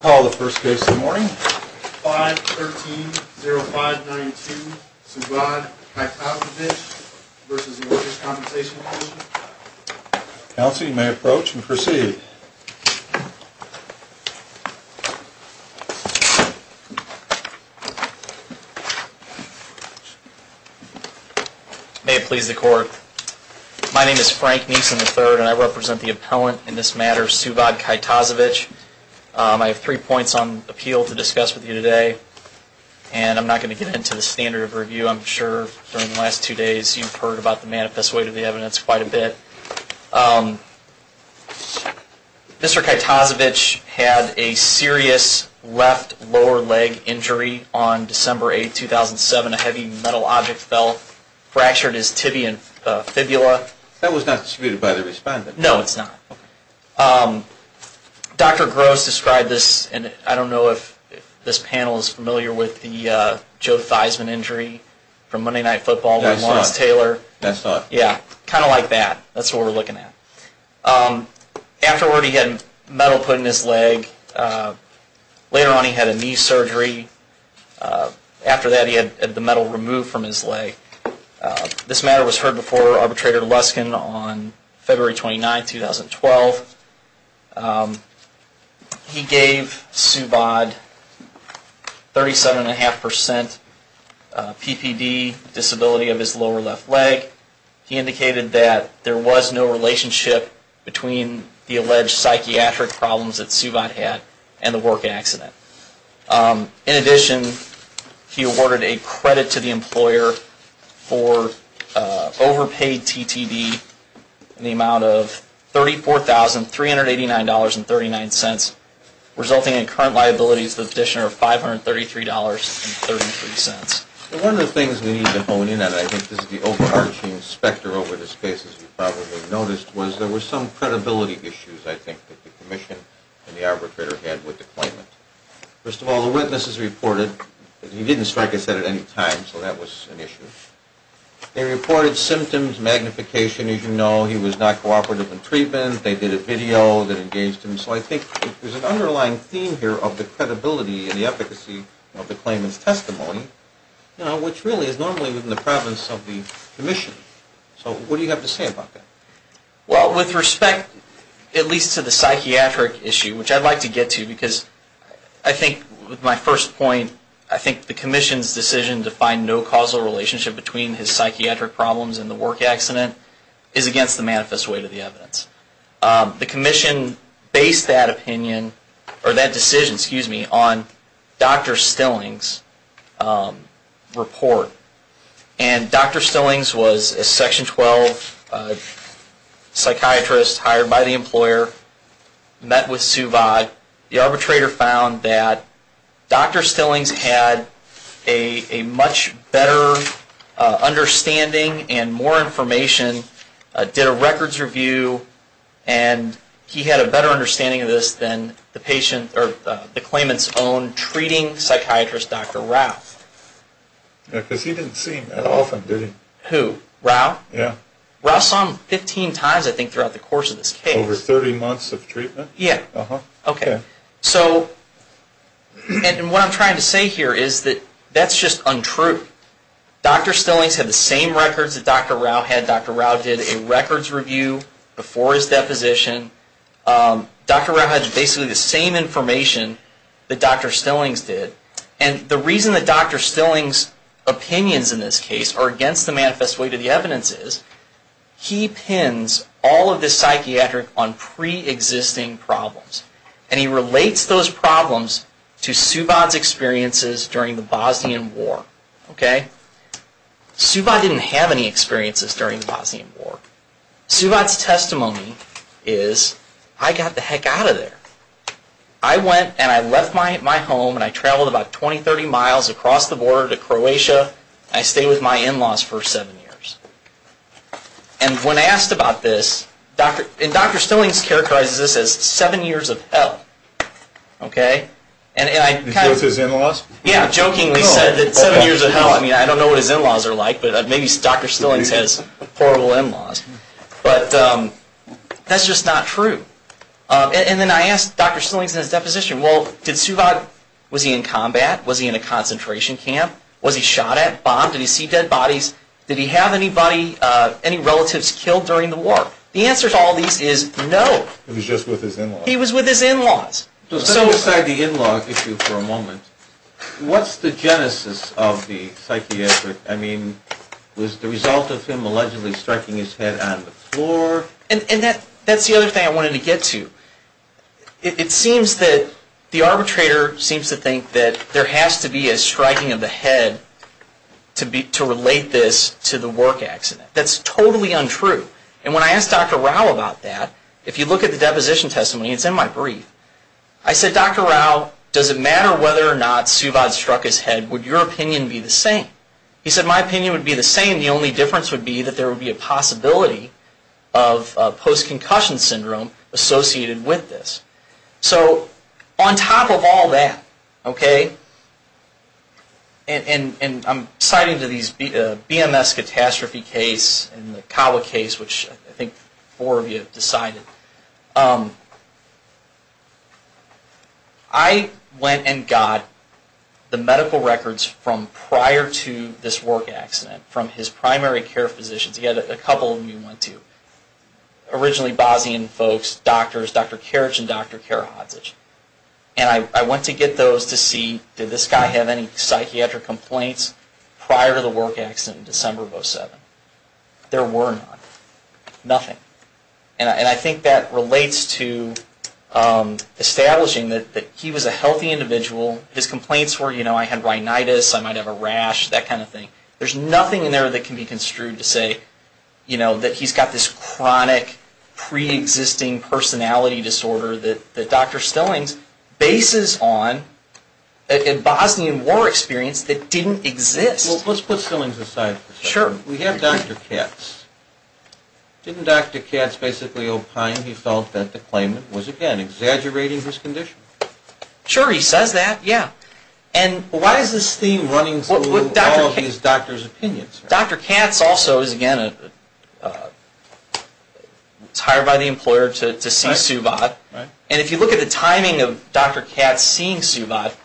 Call the first case of the morning. 513-0592, Suvad Kajtazovic v. Workers' Compensation Commission. Counsel, you may approach and proceed. May it please the court. My name is Frank Neeson III, and I represent the appellant in this matter, Suvad Kajtazovic. I have three points on appeal to discuss with you today, and I'm not going to get into the standard of review. I'm sure during the last two days you've heard about the manifest weight of the evidence quite a bit. Mr. Kajtazovic had a serious left lower leg injury on December 8, 2007. A heavy metal object fell, fractured his tibia and fibula. That was not disputed by the respondent. No, it's not. Dr. Gross described this, and I don't know if this panel is familiar with the Joe Theismann injury from Monday Night Football with Lawrence Taylor. That's not. Yeah, kind of like that. That's what we're looking at. Afterward, he had metal put in his leg. Later on, he had a knee surgery. After that, he had the metal removed from his leg. This matter was heard before Arbitrator Luskin on February 29, 2012. He gave Suvad 37.5% PPD disability of his lower left leg. He indicated that there was no relationship between the alleged psychiatric problems that Suvad had and the work accident. In addition, he awarded a credit to the employer for overpaid TTD in the amount of $34,389.39, resulting in current liabilities of an additional $533.33. One of the things we need to hone in on, and I think this is the overarching specter over this case, as you probably noticed, was there were some credibility issues, I think, that the commission and the arbitrator had with the claimant. First of all, the witnesses reported that he didn't strike a set at any time, so that was an issue. They reported symptoms, magnification, as you know. He was not cooperative in treatment. They did a video that engaged him. So I think there's an underlying theme here of the credibility and the efficacy of the claimant's testimony, which really is normally within the province of the commission. So what do you have to say about that? Well, with respect at least to the psychiatric issue, which I'd like to get to because I think with my first point, I think the commission's decision to find no causal relationship between his psychiatric problems and the work accident is against the manifest weight of the evidence. The commission based that opinion, or that decision, excuse me, on Dr. Stillings' report. And Dr. Stillings was a Section 12 psychiatrist hired by the employer, met with Suvat. The arbitrator found that Dr. Stillings had a much better understanding and more information, did a records review, and he had a better understanding of this than the claimant's own treating psychiatrist, Dr. Rao. Yeah, because he didn't see him that often, did he? Who? Rao? Yeah. Rao saw him 15 times I think throughout the course of this case. Over 30 months of treatment? Yeah. Uh-huh. Okay. So, and what I'm trying to say here is that that's just untrue. Dr. Stillings had the same records that Dr. Rao had. Dr. Rao did a records review before his deposition. Dr. Rao had basically the same information that Dr. Stillings did. And the reason that Dr. Stillings' opinions in this case are against the manifest weight of the evidence is, he pins all of this psychiatric on pre-existing problems. And he relates those problems to Subodh's experiences during the Bosnian War. Okay? Subodh didn't have any experiences during the Bosnian War. Subodh's testimony is, I got the heck out of there. I went and I left my home and I traveled about 20, 30 miles across the border to Croatia. I stayed with my in-laws for seven years. And when I asked about this, and Dr. Stillings characterizes this as seven years of hell. Okay? And I kind of- He jokes his in-laws? Yeah, jokingly said that seven years of hell. I mean, I don't know what his in-laws are like, but maybe Dr. Stillings has horrible in-laws. But that's just not true. And then I asked Dr. Stillings in his deposition, well, did Subodh, was he in combat? Was he in a concentration camp? Was he shot at, bombed? Did he see dead bodies? Did he have anybody, any relatives killed during the war? The answer to all these is no. He was just with his in-laws? He was with his in-laws. Let's set aside the in-law issue for a moment. What's the genesis of the psychiatric, I mean, was the result of him allegedly striking his head on the floor? And that's the other thing I wanted to get to. It seems that the arbitrator seems to think that there has to be a striking of the head to relate this to the work accident. That's totally untrue. And when I asked Dr. Rao about that, if you look at the deposition testimony, it's in my brief. I said, Dr. Rao, does it matter whether or not Subodh struck his head? Would your opinion be the same? He said, my opinion would be the same. And the only difference would be that there would be a possibility of post-concussion syndrome associated with this. So on top of all that, okay, and I'm citing to these BMS catastrophe case and the Kawa case, which I think four of you have decided. I went and got the medical records from prior to this work accident from his primary care physicians. He had a couple of them he went to. Originally Bosnian folks, doctors, Dr. Karic and Dr. Karic. And I went to get those to see, did this guy have any psychiatric complaints prior to the work accident in December of 2007? There were none. Nothing. And I think that relates to establishing that he was a healthy individual. His complaints were, you know, I had rhinitis, I might have a rash, that kind of thing. There's nothing in there that can be construed to say, you know, that he's got this chronic pre-existing personality disorder that Dr. Stillings bases on a Bosnian war experience that didn't exist. Well, let's put Stillings aside for a second. Sure. We have Dr. Katz. Didn't Dr. Katz basically opine he felt that the claimant was, again, exaggerating his condition? Sure, he says that, yeah. And why is this theme running through all of these doctors' opinions? Dr. Katz also is, again, hired by the employer to see Suvat. And if you look at the timing of Dr. Katz seeing Suvat,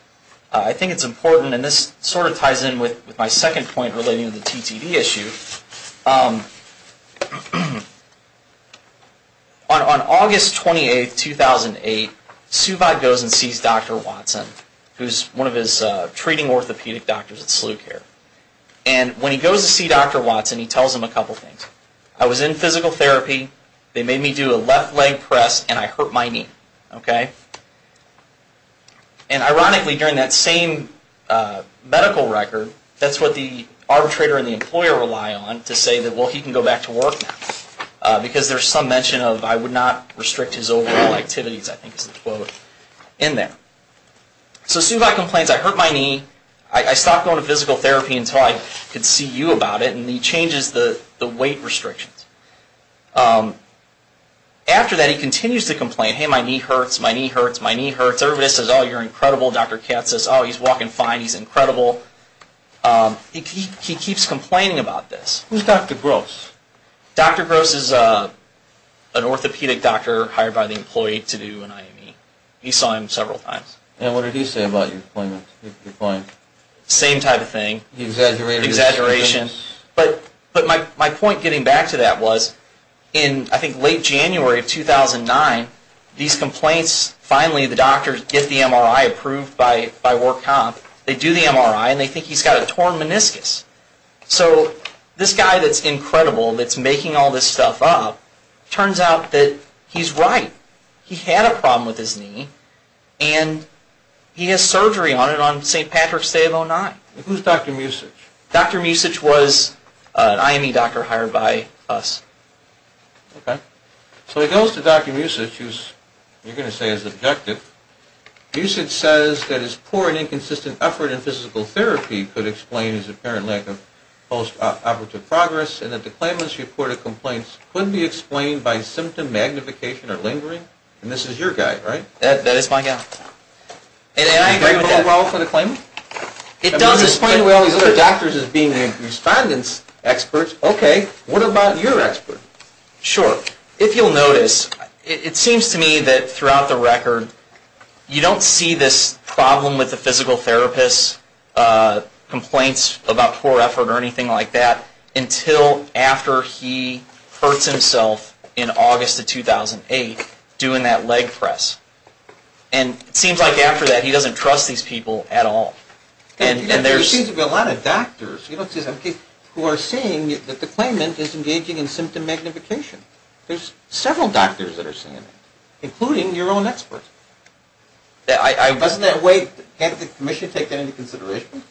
I think it's important, and this sort of ties in with my second point relating to the TTV issue. On August 28, 2008, Suvat goes and sees Dr. Watson, who's one of his treating orthopedic doctors at SLUCare. And when he goes to see Dr. Watson, he tells him a couple things. I was in physical therapy, they made me do a left leg press, and I hurt my knee, okay? And ironically, during that same medical record, that's what the arbitrator and the employer rely on to say that, well, he can go back to work now. Because there's some mention of, I would not restrict his overall activities, I think is the quote, in there. So Suvat complains, I hurt my knee, I stopped going to physical therapy until I could see you about it, and he changes the weight restrictions. After that, he continues to complain, hey, my knee hurts, my knee hurts, my knee hurts. Everybody says, oh, you're incredible. Dr. Katz says, oh, he's walking fine, he's incredible. He keeps complaining about this. Who's Dr. Gross? Dr. Gross is an orthopedic doctor hired by the employee to do an IME. You saw him several times. And what did he say about your point? Same type of thing. He exaggerated. Exaggeration. But my point getting back to that was, in, I think, late January of 2009, these complaints, finally the doctors get the MRI approved by Work Comp. They do the MRI, and they think he's got a torn meniscus. So this guy that's incredible, that's making all this stuff up, turns out that he's right. He had a problem with his knee, and he has surgery on it on St. Patrick's Day of 09. Who's Dr. Musich? Dr. Musich was an IME doctor hired by us. Okay. So he goes to Dr. Musich, who you're going to say is objective. Musich says that his poor and inconsistent effort in physical therapy could explain his apparent lack of post-operative progress, and that the claimants' report of complaints couldn't be explained by symptom magnification or lingering. And this is your guy, right? That is my guy. And I agree with that. Does it play a role for the claimant? It does. It's playing with all these other doctors as being the respondents' experts. Okay. What about your expert? Sure. If you'll notice, it seems to me that throughout the record, you don't see this problem with the physical therapist, complaints about poor effort or anything like that, until after he hurts himself in August of 2008, doing that leg press. And it seems like after that, he doesn't trust these people at all. There seems to be a lot of doctors who are saying that the claimant is engaging in symptom magnification. There's several doctors that are saying that, including your own expert. Doesn't that way, can't the commission take that into consideration?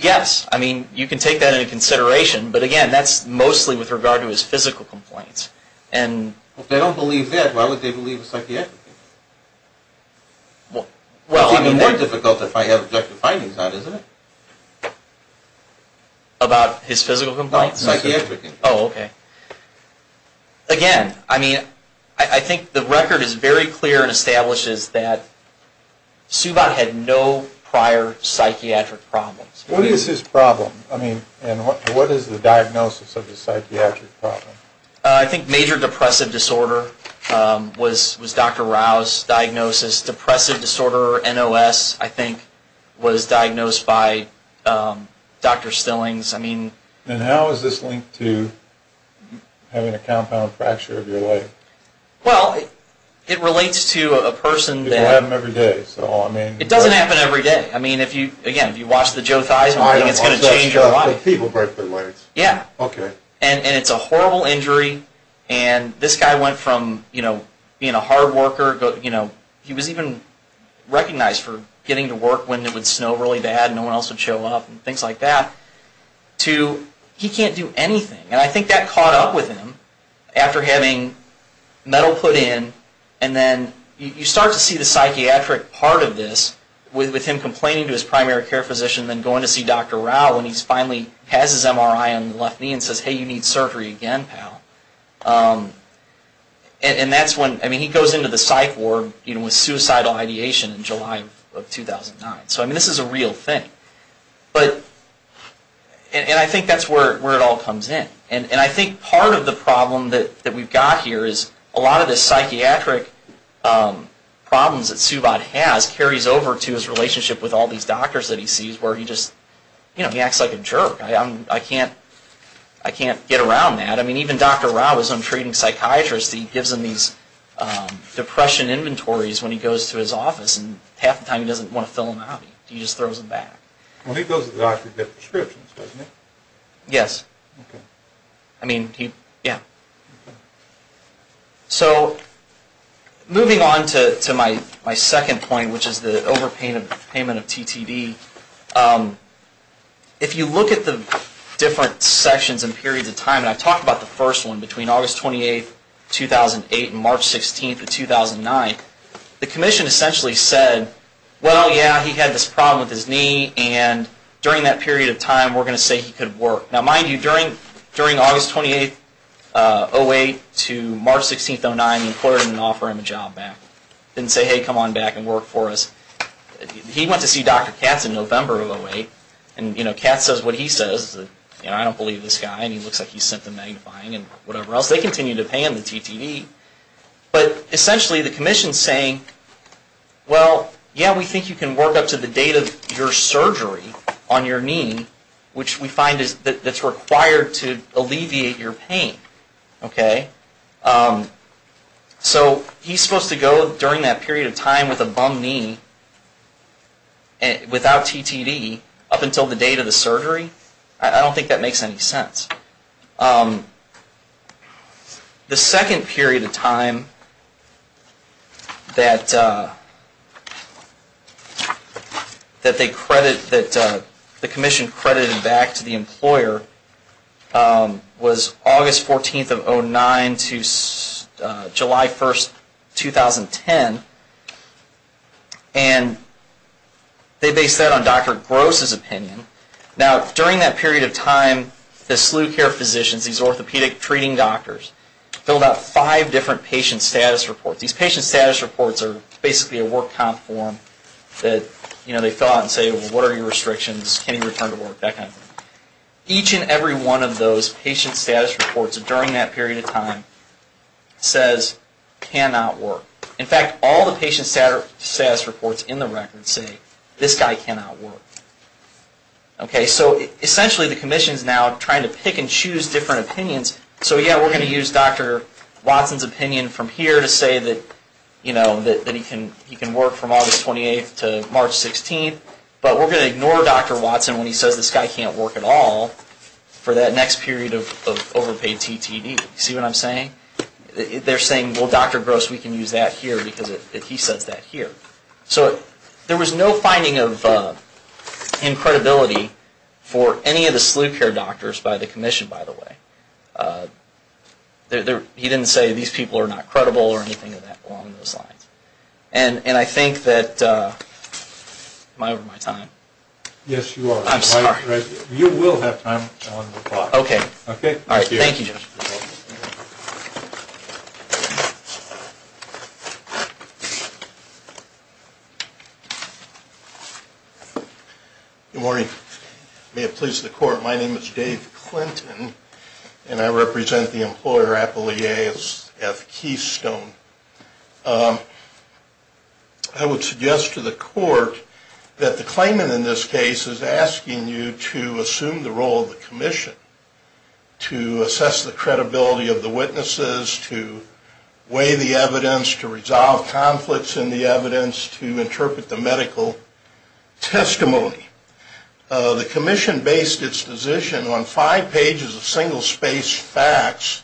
Yes. I mean, you can take that into consideration, but again, that's mostly with regard to his physical complaints. If they don't believe that, why would they believe a psychiatrician? It's even more difficult if I have objective findings on it, isn't it? About his physical complaints? Psychiatrician. Oh, okay. Again, I mean, I think the record is very clear and establishes that Subodh had no prior psychiatric problems. What is his problem? I mean, what is the diagnosis of his psychiatric problem? I think major depressive disorder was Dr. Rao's diagnosis. Depressive disorder, NOS, I think was diagnosed by Dr. Stillings. And how is this linked to having a compound fracture of your leg? Well, it relates to a person that... It happens every day, so I mean... It doesn't happen every day. I mean, again, if you watch the Joe Theismann, it's going to change your life. People break their legs. Yeah. Okay. And it's a horrible injury. And this guy went from being a hard worker, he was even recognized for getting to work when it would snow really bad and no one else would show up and things like that, to he can't do anything. And I think that caught up with him after having metal put in. And then you start to see the psychiatric part of this with him complaining to his primary care physician and then going to see Dr. Rao when he finally has his MRI on the left knee and says, hey, you need surgery again, pal. And that's when... I mean, he goes into the psych ward with suicidal ideation in July of 2009. So, I mean, this is a real thing. And I think that's where it all comes in. And I think part of the problem that we've got here is a lot of the psychiatric problems that Subodh has carries over to his relationship with all these doctors that he sees where he just, you know, he acts like a jerk. I can't get around that. I mean, even Dr. Rao, his own treating psychiatrist, he gives him these depression inventories when he goes to his office and half the time he doesn't want to fill them out. He just throws them back. Well, he goes to the doctor to get prescriptions, doesn't he? Yes. Okay. I mean, yeah. Okay. So, moving on to my second point, which is the overpayment of TTD, if you look at the different sections and periods of time, and I've talked about the first one between August 28, 2008 and March 16 of 2009, the commission essentially said, well, yeah, he had this problem with his knee, and during that period of time we're going to say he could work. Now, mind you, during August 28, 2008 to March 16, 2009, the employer didn't offer him a job back. Didn't say, hey, come on back and work for us. He went to see Dr. Katz in November of 2008, and, you know, Katz says what he says, you know, I don't believe this guy, and he looks like he's symptom magnifying and whatever else. They continue to pay him the TTD. But essentially the commission is saying, well, yeah, we think you can work up to the date of your surgery on your knee, which we find that's required to alleviate your pain, okay? So he's supposed to go during that period of time with a bum knee without TTD up until the date of the surgery? I don't think that makes any sense. The second period of time that the commission credited back to the employer was August 14 of 2009 to July 1, 2010, and they based that on Dr. Gross's opinion. Now, during that period of time, the SLU care physicians, these orthopedic treating doctors, filled out five different patient status reports. These patient status reports are basically a work comp form that, you know, they fill out and say, well, what are your restrictions, can you return to work, that kind of thing. Each and every one of those patient status reports during that period of time says cannot work. In fact, all the patient status reports in the record say this guy cannot work. Okay, so essentially the commission is now trying to pick and choose different opinions. So, yeah, we're going to use Dr. Watson's opinion from here to say that, you know, that he can work from August 28 to March 16, but we're going to ignore Dr. Watson when he says this guy can't work at all for that next period of overpaid TTD. See what I'm saying? They're saying, well, Dr. Gross, we can use that here because he says that here. So there was no finding of incredibility for any of the SLU care doctors by the commission, by the way. He didn't say these people are not credible or anything along those lines. And I think that, am I over my time? Yes, you are. I'm sorry. You will have time on the clock. Okay. All right. Thank you. Good morning. May it please the court, my name is Dave Clinton, and I represent the employer Appalachia F. Keystone. I would suggest to the court that the claimant in this case is asking you to assume the role of the commission, to assess the credibility of the witnesses, to weigh the evidence, to resolve conflicts in the evidence, to interpret the medical testimony. The commission based its decision on five pages of single-space facts,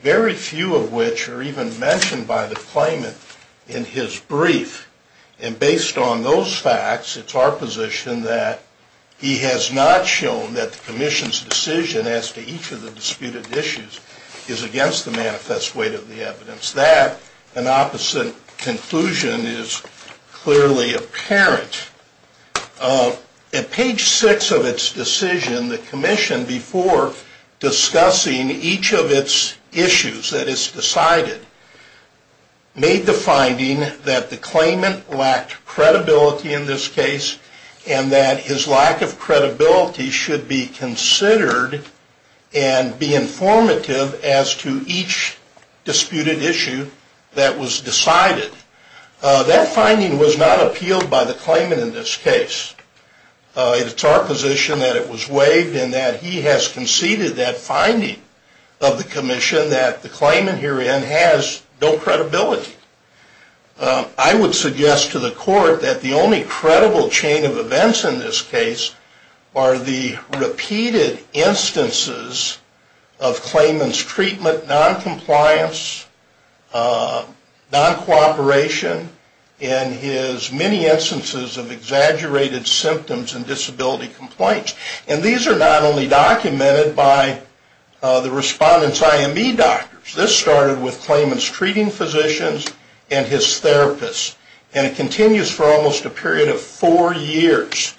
very few of which are even mentioned by the claimant in his brief. And based on those facts, it's our position that he has not shown that the commission's decision as to each of the disputed issues is against the manifest weight of the evidence. Since that, an opposite conclusion is clearly apparent. At page six of its decision, the commission, before discussing each of its issues that is decided, made the finding that the claimant lacked credibility in this case, and that his lack of credibility should be considered and be informative as to each disputed issue that was decided. That finding was not appealed by the claimant in this case. It's our position that it was waived and that he has conceded that finding of the commission that the claimant herein has no credibility. I would suggest to the court that the only credible chain of events in this case are the repeated instances of claimant's treatment, noncompliance, noncooperation, and his many instances of exaggerated symptoms and disability complaints. And these are not only documented by the respondent's IME doctors. This started with claimant's treating physicians and his therapists, and it continues for almost a period of four years.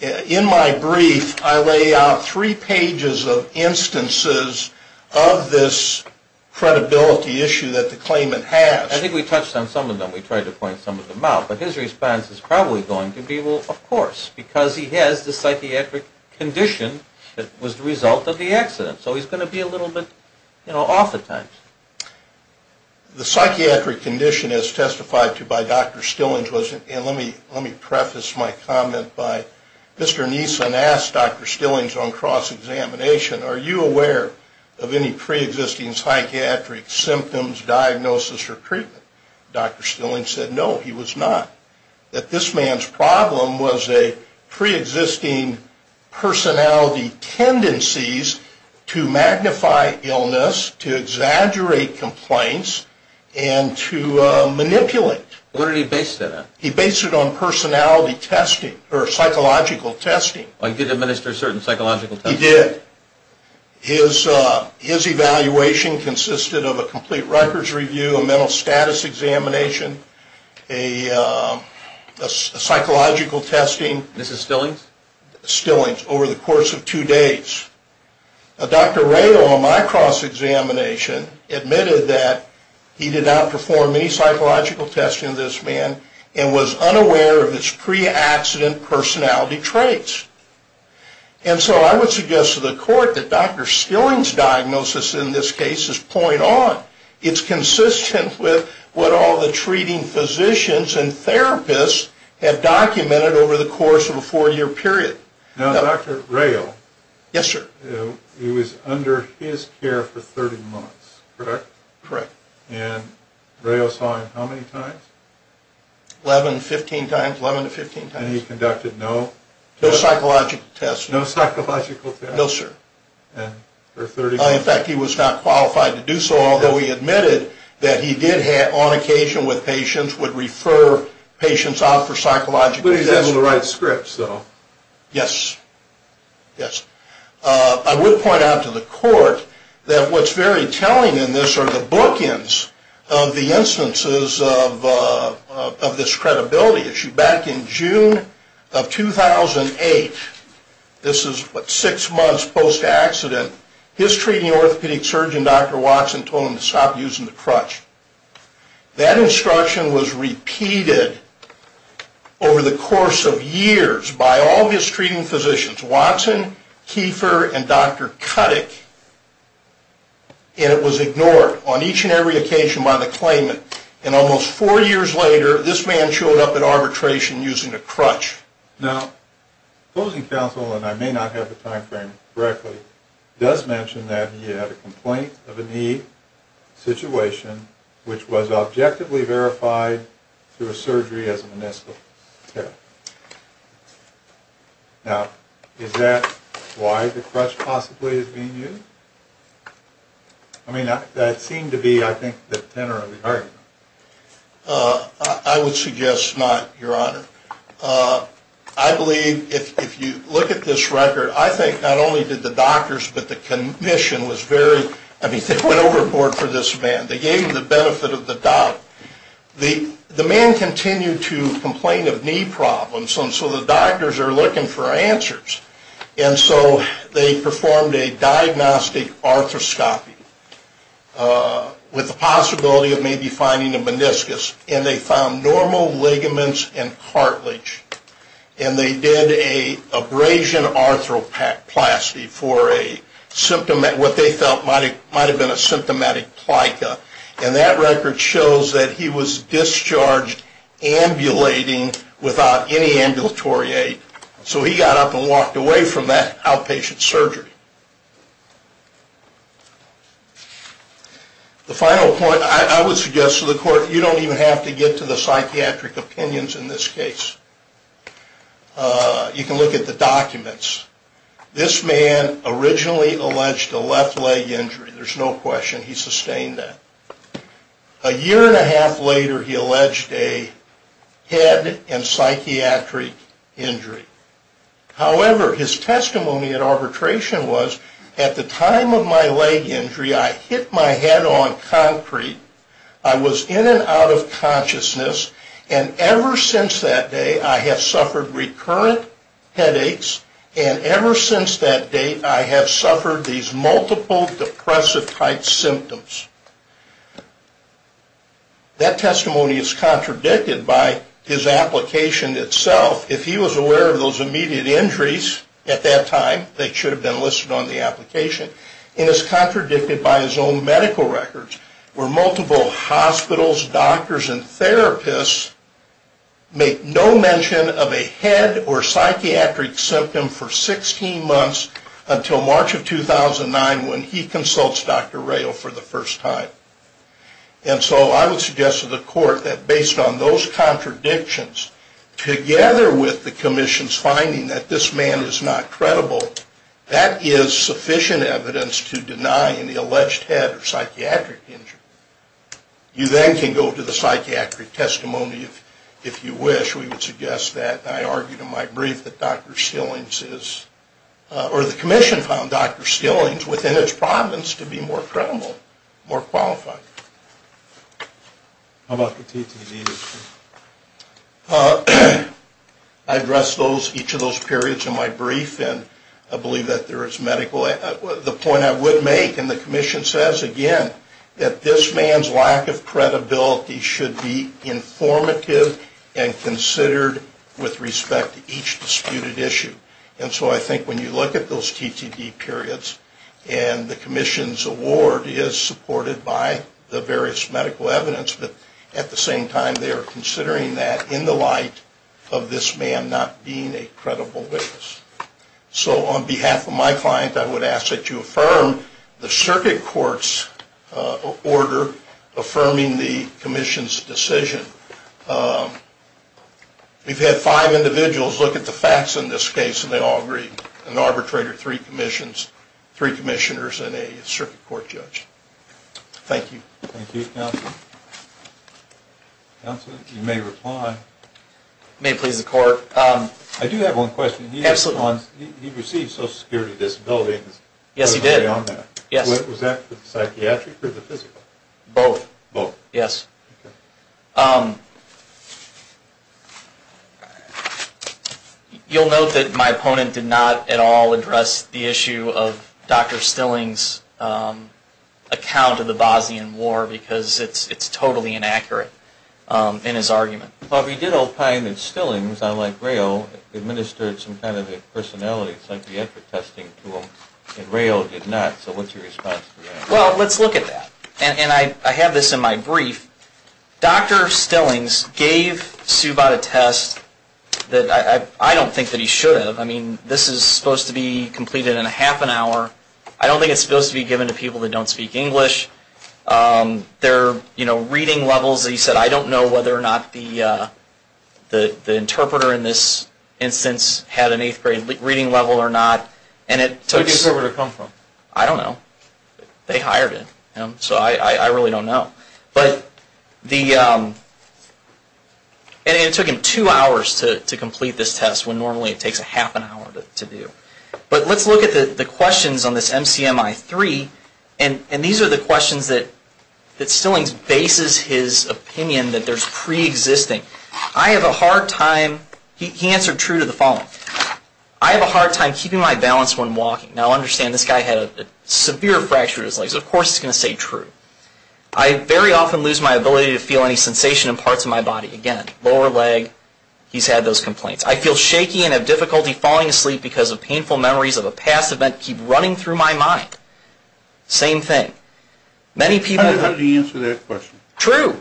In my brief, I lay out three pages of instances of this credibility issue that the claimant has. I think we touched on some of them. We tried to point some of them out. But his response is probably going to be, well, of course, because he has the psychiatric condition that was the result of the accident. So he's going to be a little bit off at times. The psychiatric condition, as testified to by Dr. Stillings, and let me preface my comment by Mr. Neeson asked Dr. Stillings on cross-examination, are you aware of any preexisting psychiatric symptoms, diagnosis, or treatment? Dr. Stillings said no, he was not. That this man's problem was a preexisting personality tendencies to magnify illness, to exaggerate complaints, and to manipulate. What did he base that on? He based it on personality testing, or psychological testing. He did administer certain psychological testing? He did. His evaluation consisted of a complete records review, a mental status examination, a psychological testing. This is Stillings? Stillings, over the course of two days. Dr. Ray, on my cross-examination, admitted that he did not perform any psychological testing on this man, and was unaware of his pre-accident personality traits. And so I would suggest to the court that Dr. Stillings' diagnosis in this case is point on. It's consistent with what all the treating physicians and therapists have documented over the course of a four-year period. Now, Dr. Rayo. Yes, sir. He was under his care for 30 months, correct? Correct. And Rayo saw him how many times? 11, 15 times, 11 to 15 times. And he conducted no tests? No psychological tests. No psychological tests? No, sir. And for 30 months? In fact, he was not qualified to do so, although he admitted that he did, on occasion with patients, would refer patients out for psychological tests. But he was able to write scripts, though? Yes. Yes. I would point out to the court that what's very telling in this are the bookends of the instances of this credibility issue. Back in June of 2008, this is six months post-accident, his treating orthopedic surgeon, Dr. Watson, told him to stop using the crutch. That instruction was repeated over the course of years by all his treating physicians, Watson, Kiefer, and Dr. Kuttick, and it was ignored on each and every occasion by the claimant. And almost four years later, this man showed up at arbitration using a crutch. Now, opposing counsel, and I may not have the time frame correctly, does mention that he had a complaint of a knee situation which was objectively verified through a surgery as a meniscus tear. Now, is that why the crutch possibly is being used? I mean, that seemed to be, I think, the tenor of the argument. I would suggest not, Your Honor. I believe if you look at this record, I think not only did the doctors, but the commission was very, I mean, they went overboard for this man. They gave him the benefit of the doubt. The man continued to complain of knee problems, and so the doctors are looking for answers. And so they performed a diagnostic arthroscopy with the possibility of maybe finding a meniscus, and they found normal ligaments and cartilage. And they did an abrasion arthroplasty for a symptom, what they felt might have been a symptomatic plica. And that record shows that he was discharged ambulating without any ambulatory aid. So he got up and walked away from that outpatient surgery. The final point, I would suggest to the court, you don't even have to get to the psychiatric opinions in this case. You can look at the documents. This man originally alleged a left leg injury. There's no question he sustained that. A year and a half later, he alleged a head and psychiatric injury. However, his testimony at arbitration was, at the time of my leg injury, I hit my head on concrete. I was in and out of consciousness, and ever since that day I have suffered recurrent headaches, and ever since that date I have suffered these multiple depressive-type symptoms. That testimony is contradicted by his application itself. If he was aware of those immediate injuries at that time, they should have been listed on the application. And it's contradicted by his own medical records, where multiple hospitals, doctors, and therapists make no mention of a head or psychiatric symptom for 16 months until March of 2009 when he consults Dr. Rayl for the first time. And so I would suggest to the court that based on those contradictions, together with the commission's finding that this man is not credible, that is sufficient evidence to deny any alleged head or psychiatric injury. You then can go to the psychiatric testimony if you wish. We would suggest that. And I argued in my brief that Dr. Stillings is, or the commission found Dr. Stillings within his province to be more credible, more qualified. How about the TTD? I addressed each of those periods in my brief, and I believe that there is medical evidence. The point I would make, and the commission says again, that this man's lack of credibility should be informative and considered with respect to each disputed issue. And so I think when you look at those TTD periods and the commission's award is supported by the various medical evidence, but at the same time they are considering that in the light of this man not being a credible witness. So on behalf of my client, I would ask that you affirm the circuit court's order affirming the commission's decision. We've had five individuals look at the facts in this case, and they all agree. An arbitrator, three commissions, three commissioners, and a circuit court judge. Thank you. Thank you. Counselor? Counselor, you may reply. It may please the court. I do have one question. Absolutely. He received social security disability. Yes, he did. Was that for the psychiatric or the physical? Both. Both. Yes. Okay. You'll note that my opponent did not at all address the issue of Dr. Stillings' account of the Bosnian War because it's totally inaccurate in his argument. But he did opine that Stillings, unlike Rao, administered some kind of a personality psychiatric testing tool, and Rao did not. So what's your response to that? Well, let's look at that. I have this in my brief. Dr. Stillings gave Subodh a test that I don't think that he should have. I mean, this is supposed to be completed in a half an hour. I don't think it's supposed to be given to people that don't speak English. Their reading levels, he said, I don't know whether or not the interpreter in this instance had an eighth grade reading level or not. Where did the interpreter come from? I don't know. They hired him, so I really don't know. But it took him two hours to complete this test when normally it takes a half an hour to do. But let's look at the questions on this MCMI-3, and these are the questions that Stillings bases his opinion that there's preexisting. I have a hard time, he answered true to the following, I have a hard time keeping my balance when walking. Now understand, this guy had a severe fracture of his legs. Of course he's going to say true. I very often lose my ability to feel any sensation in parts of my body. Again, lower leg, he's had those complaints. I feel shaky and have difficulty falling asleep because of painful memories of a past event keep running through my mind. Same thing. How did he answer that question? True.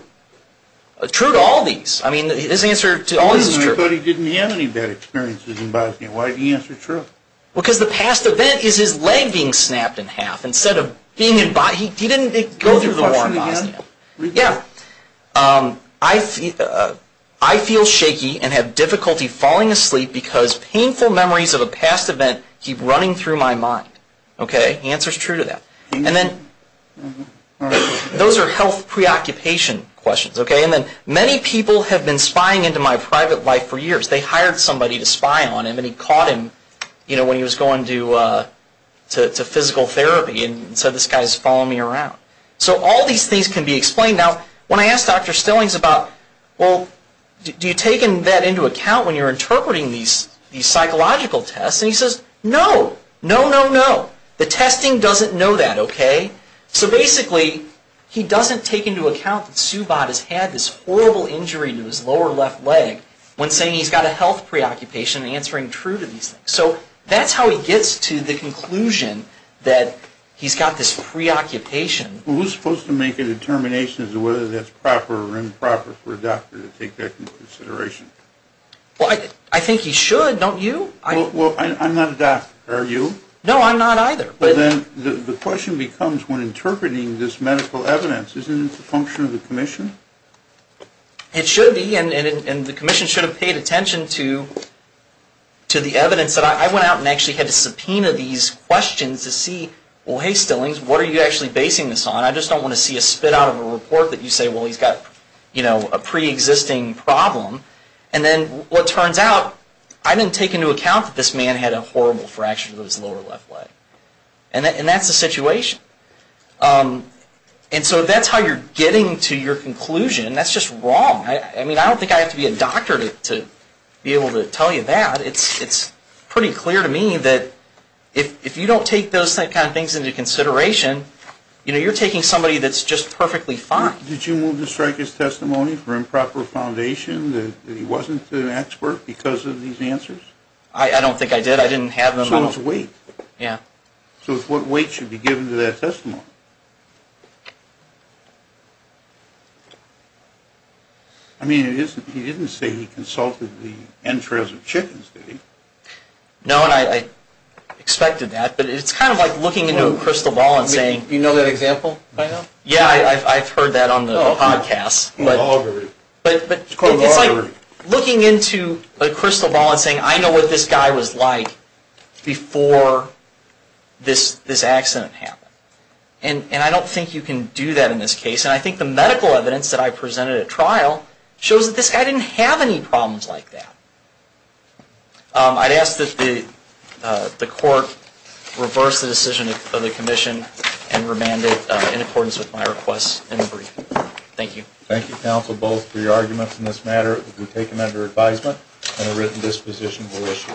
True to all these. I mean, his answer to all these is true. I thought he didn't have any bad experiences in Bosnia. Why did he answer true? Because the past event is his leg being snapped in half, instead of being in body. He didn't go through the war in Bosnia. Yeah. I feel shaky and have difficulty falling asleep because painful memories of a past event keep running through my mind. Okay. The answer is true to that. And then those are health preoccupation questions. Okay. And then many people have been spying into my private life for years. They hired somebody to spy on him, and he caught him when he was going to physical therapy and said, this guy's following me around. So all these things can be explained. Now, when I asked Dr. Stillings about, well, do you take that into account when you're interpreting these psychological tests? And he says, no. No, no, no. The testing doesn't know that, okay? So basically, he doesn't take into account that Subodh has had this horrible injury to his lower left leg when saying he's got a health preoccupation and answering true to these things. So that's how he gets to the conclusion that he's got this preoccupation. Well, who's supposed to make a determination as to whether that's proper or improper for a doctor to take that into consideration? Well, I think he should. Don't you? Well, I'm not a doctor. Are you? No, I'm not either. Well, then the question becomes, when interpreting this medical evidence, isn't it the function of the commission? It should be, and the commission should have paid attention to the evidence. I went out and actually had to subpoena these questions to see, well, hey, Stillings, what are you actually basing this on? I just don't want to see a spit out of a report that you say, well, he's got, you know, a preexisting problem. And then what turns out, I didn't take into account that this man had a horrible fracture to his lower left leg. And that's the situation. And so that's how you're getting to your conclusion. That's just wrong. I mean, I don't think I have to be a doctor to be able to tell you that. It's pretty clear to me that if you don't take those kind of things into consideration, you know, you're taking somebody that's just perfectly fine. Did you move to strike his testimony for improper foundation, that he wasn't an expert because of these answers? I don't think I did. I didn't have them on. So it's weight. Yeah. So what weight should be given to that testimony? I mean, he didn't say he consulted the entrails of chickens, did he? No, and I expected that. But it's kind of like looking into a crystal ball and saying. Do you know that example by now? Yeah, I've heard that on the podcast. It's called loggery. But it's like looking into a crystal ball and saying, I know what this guy was like before this accident happened. And I don't think you can do that in this case. And I think the medical evidence that I presented at trial shows that this guy didn't have any problems like that. I'd ask that the court reverse the decision of the commission and remand it in accordance with my request in the brief. Thank you. Thank you, counsel, both for your arguments in this matter. We take them under advisement, and a written disposition will issue.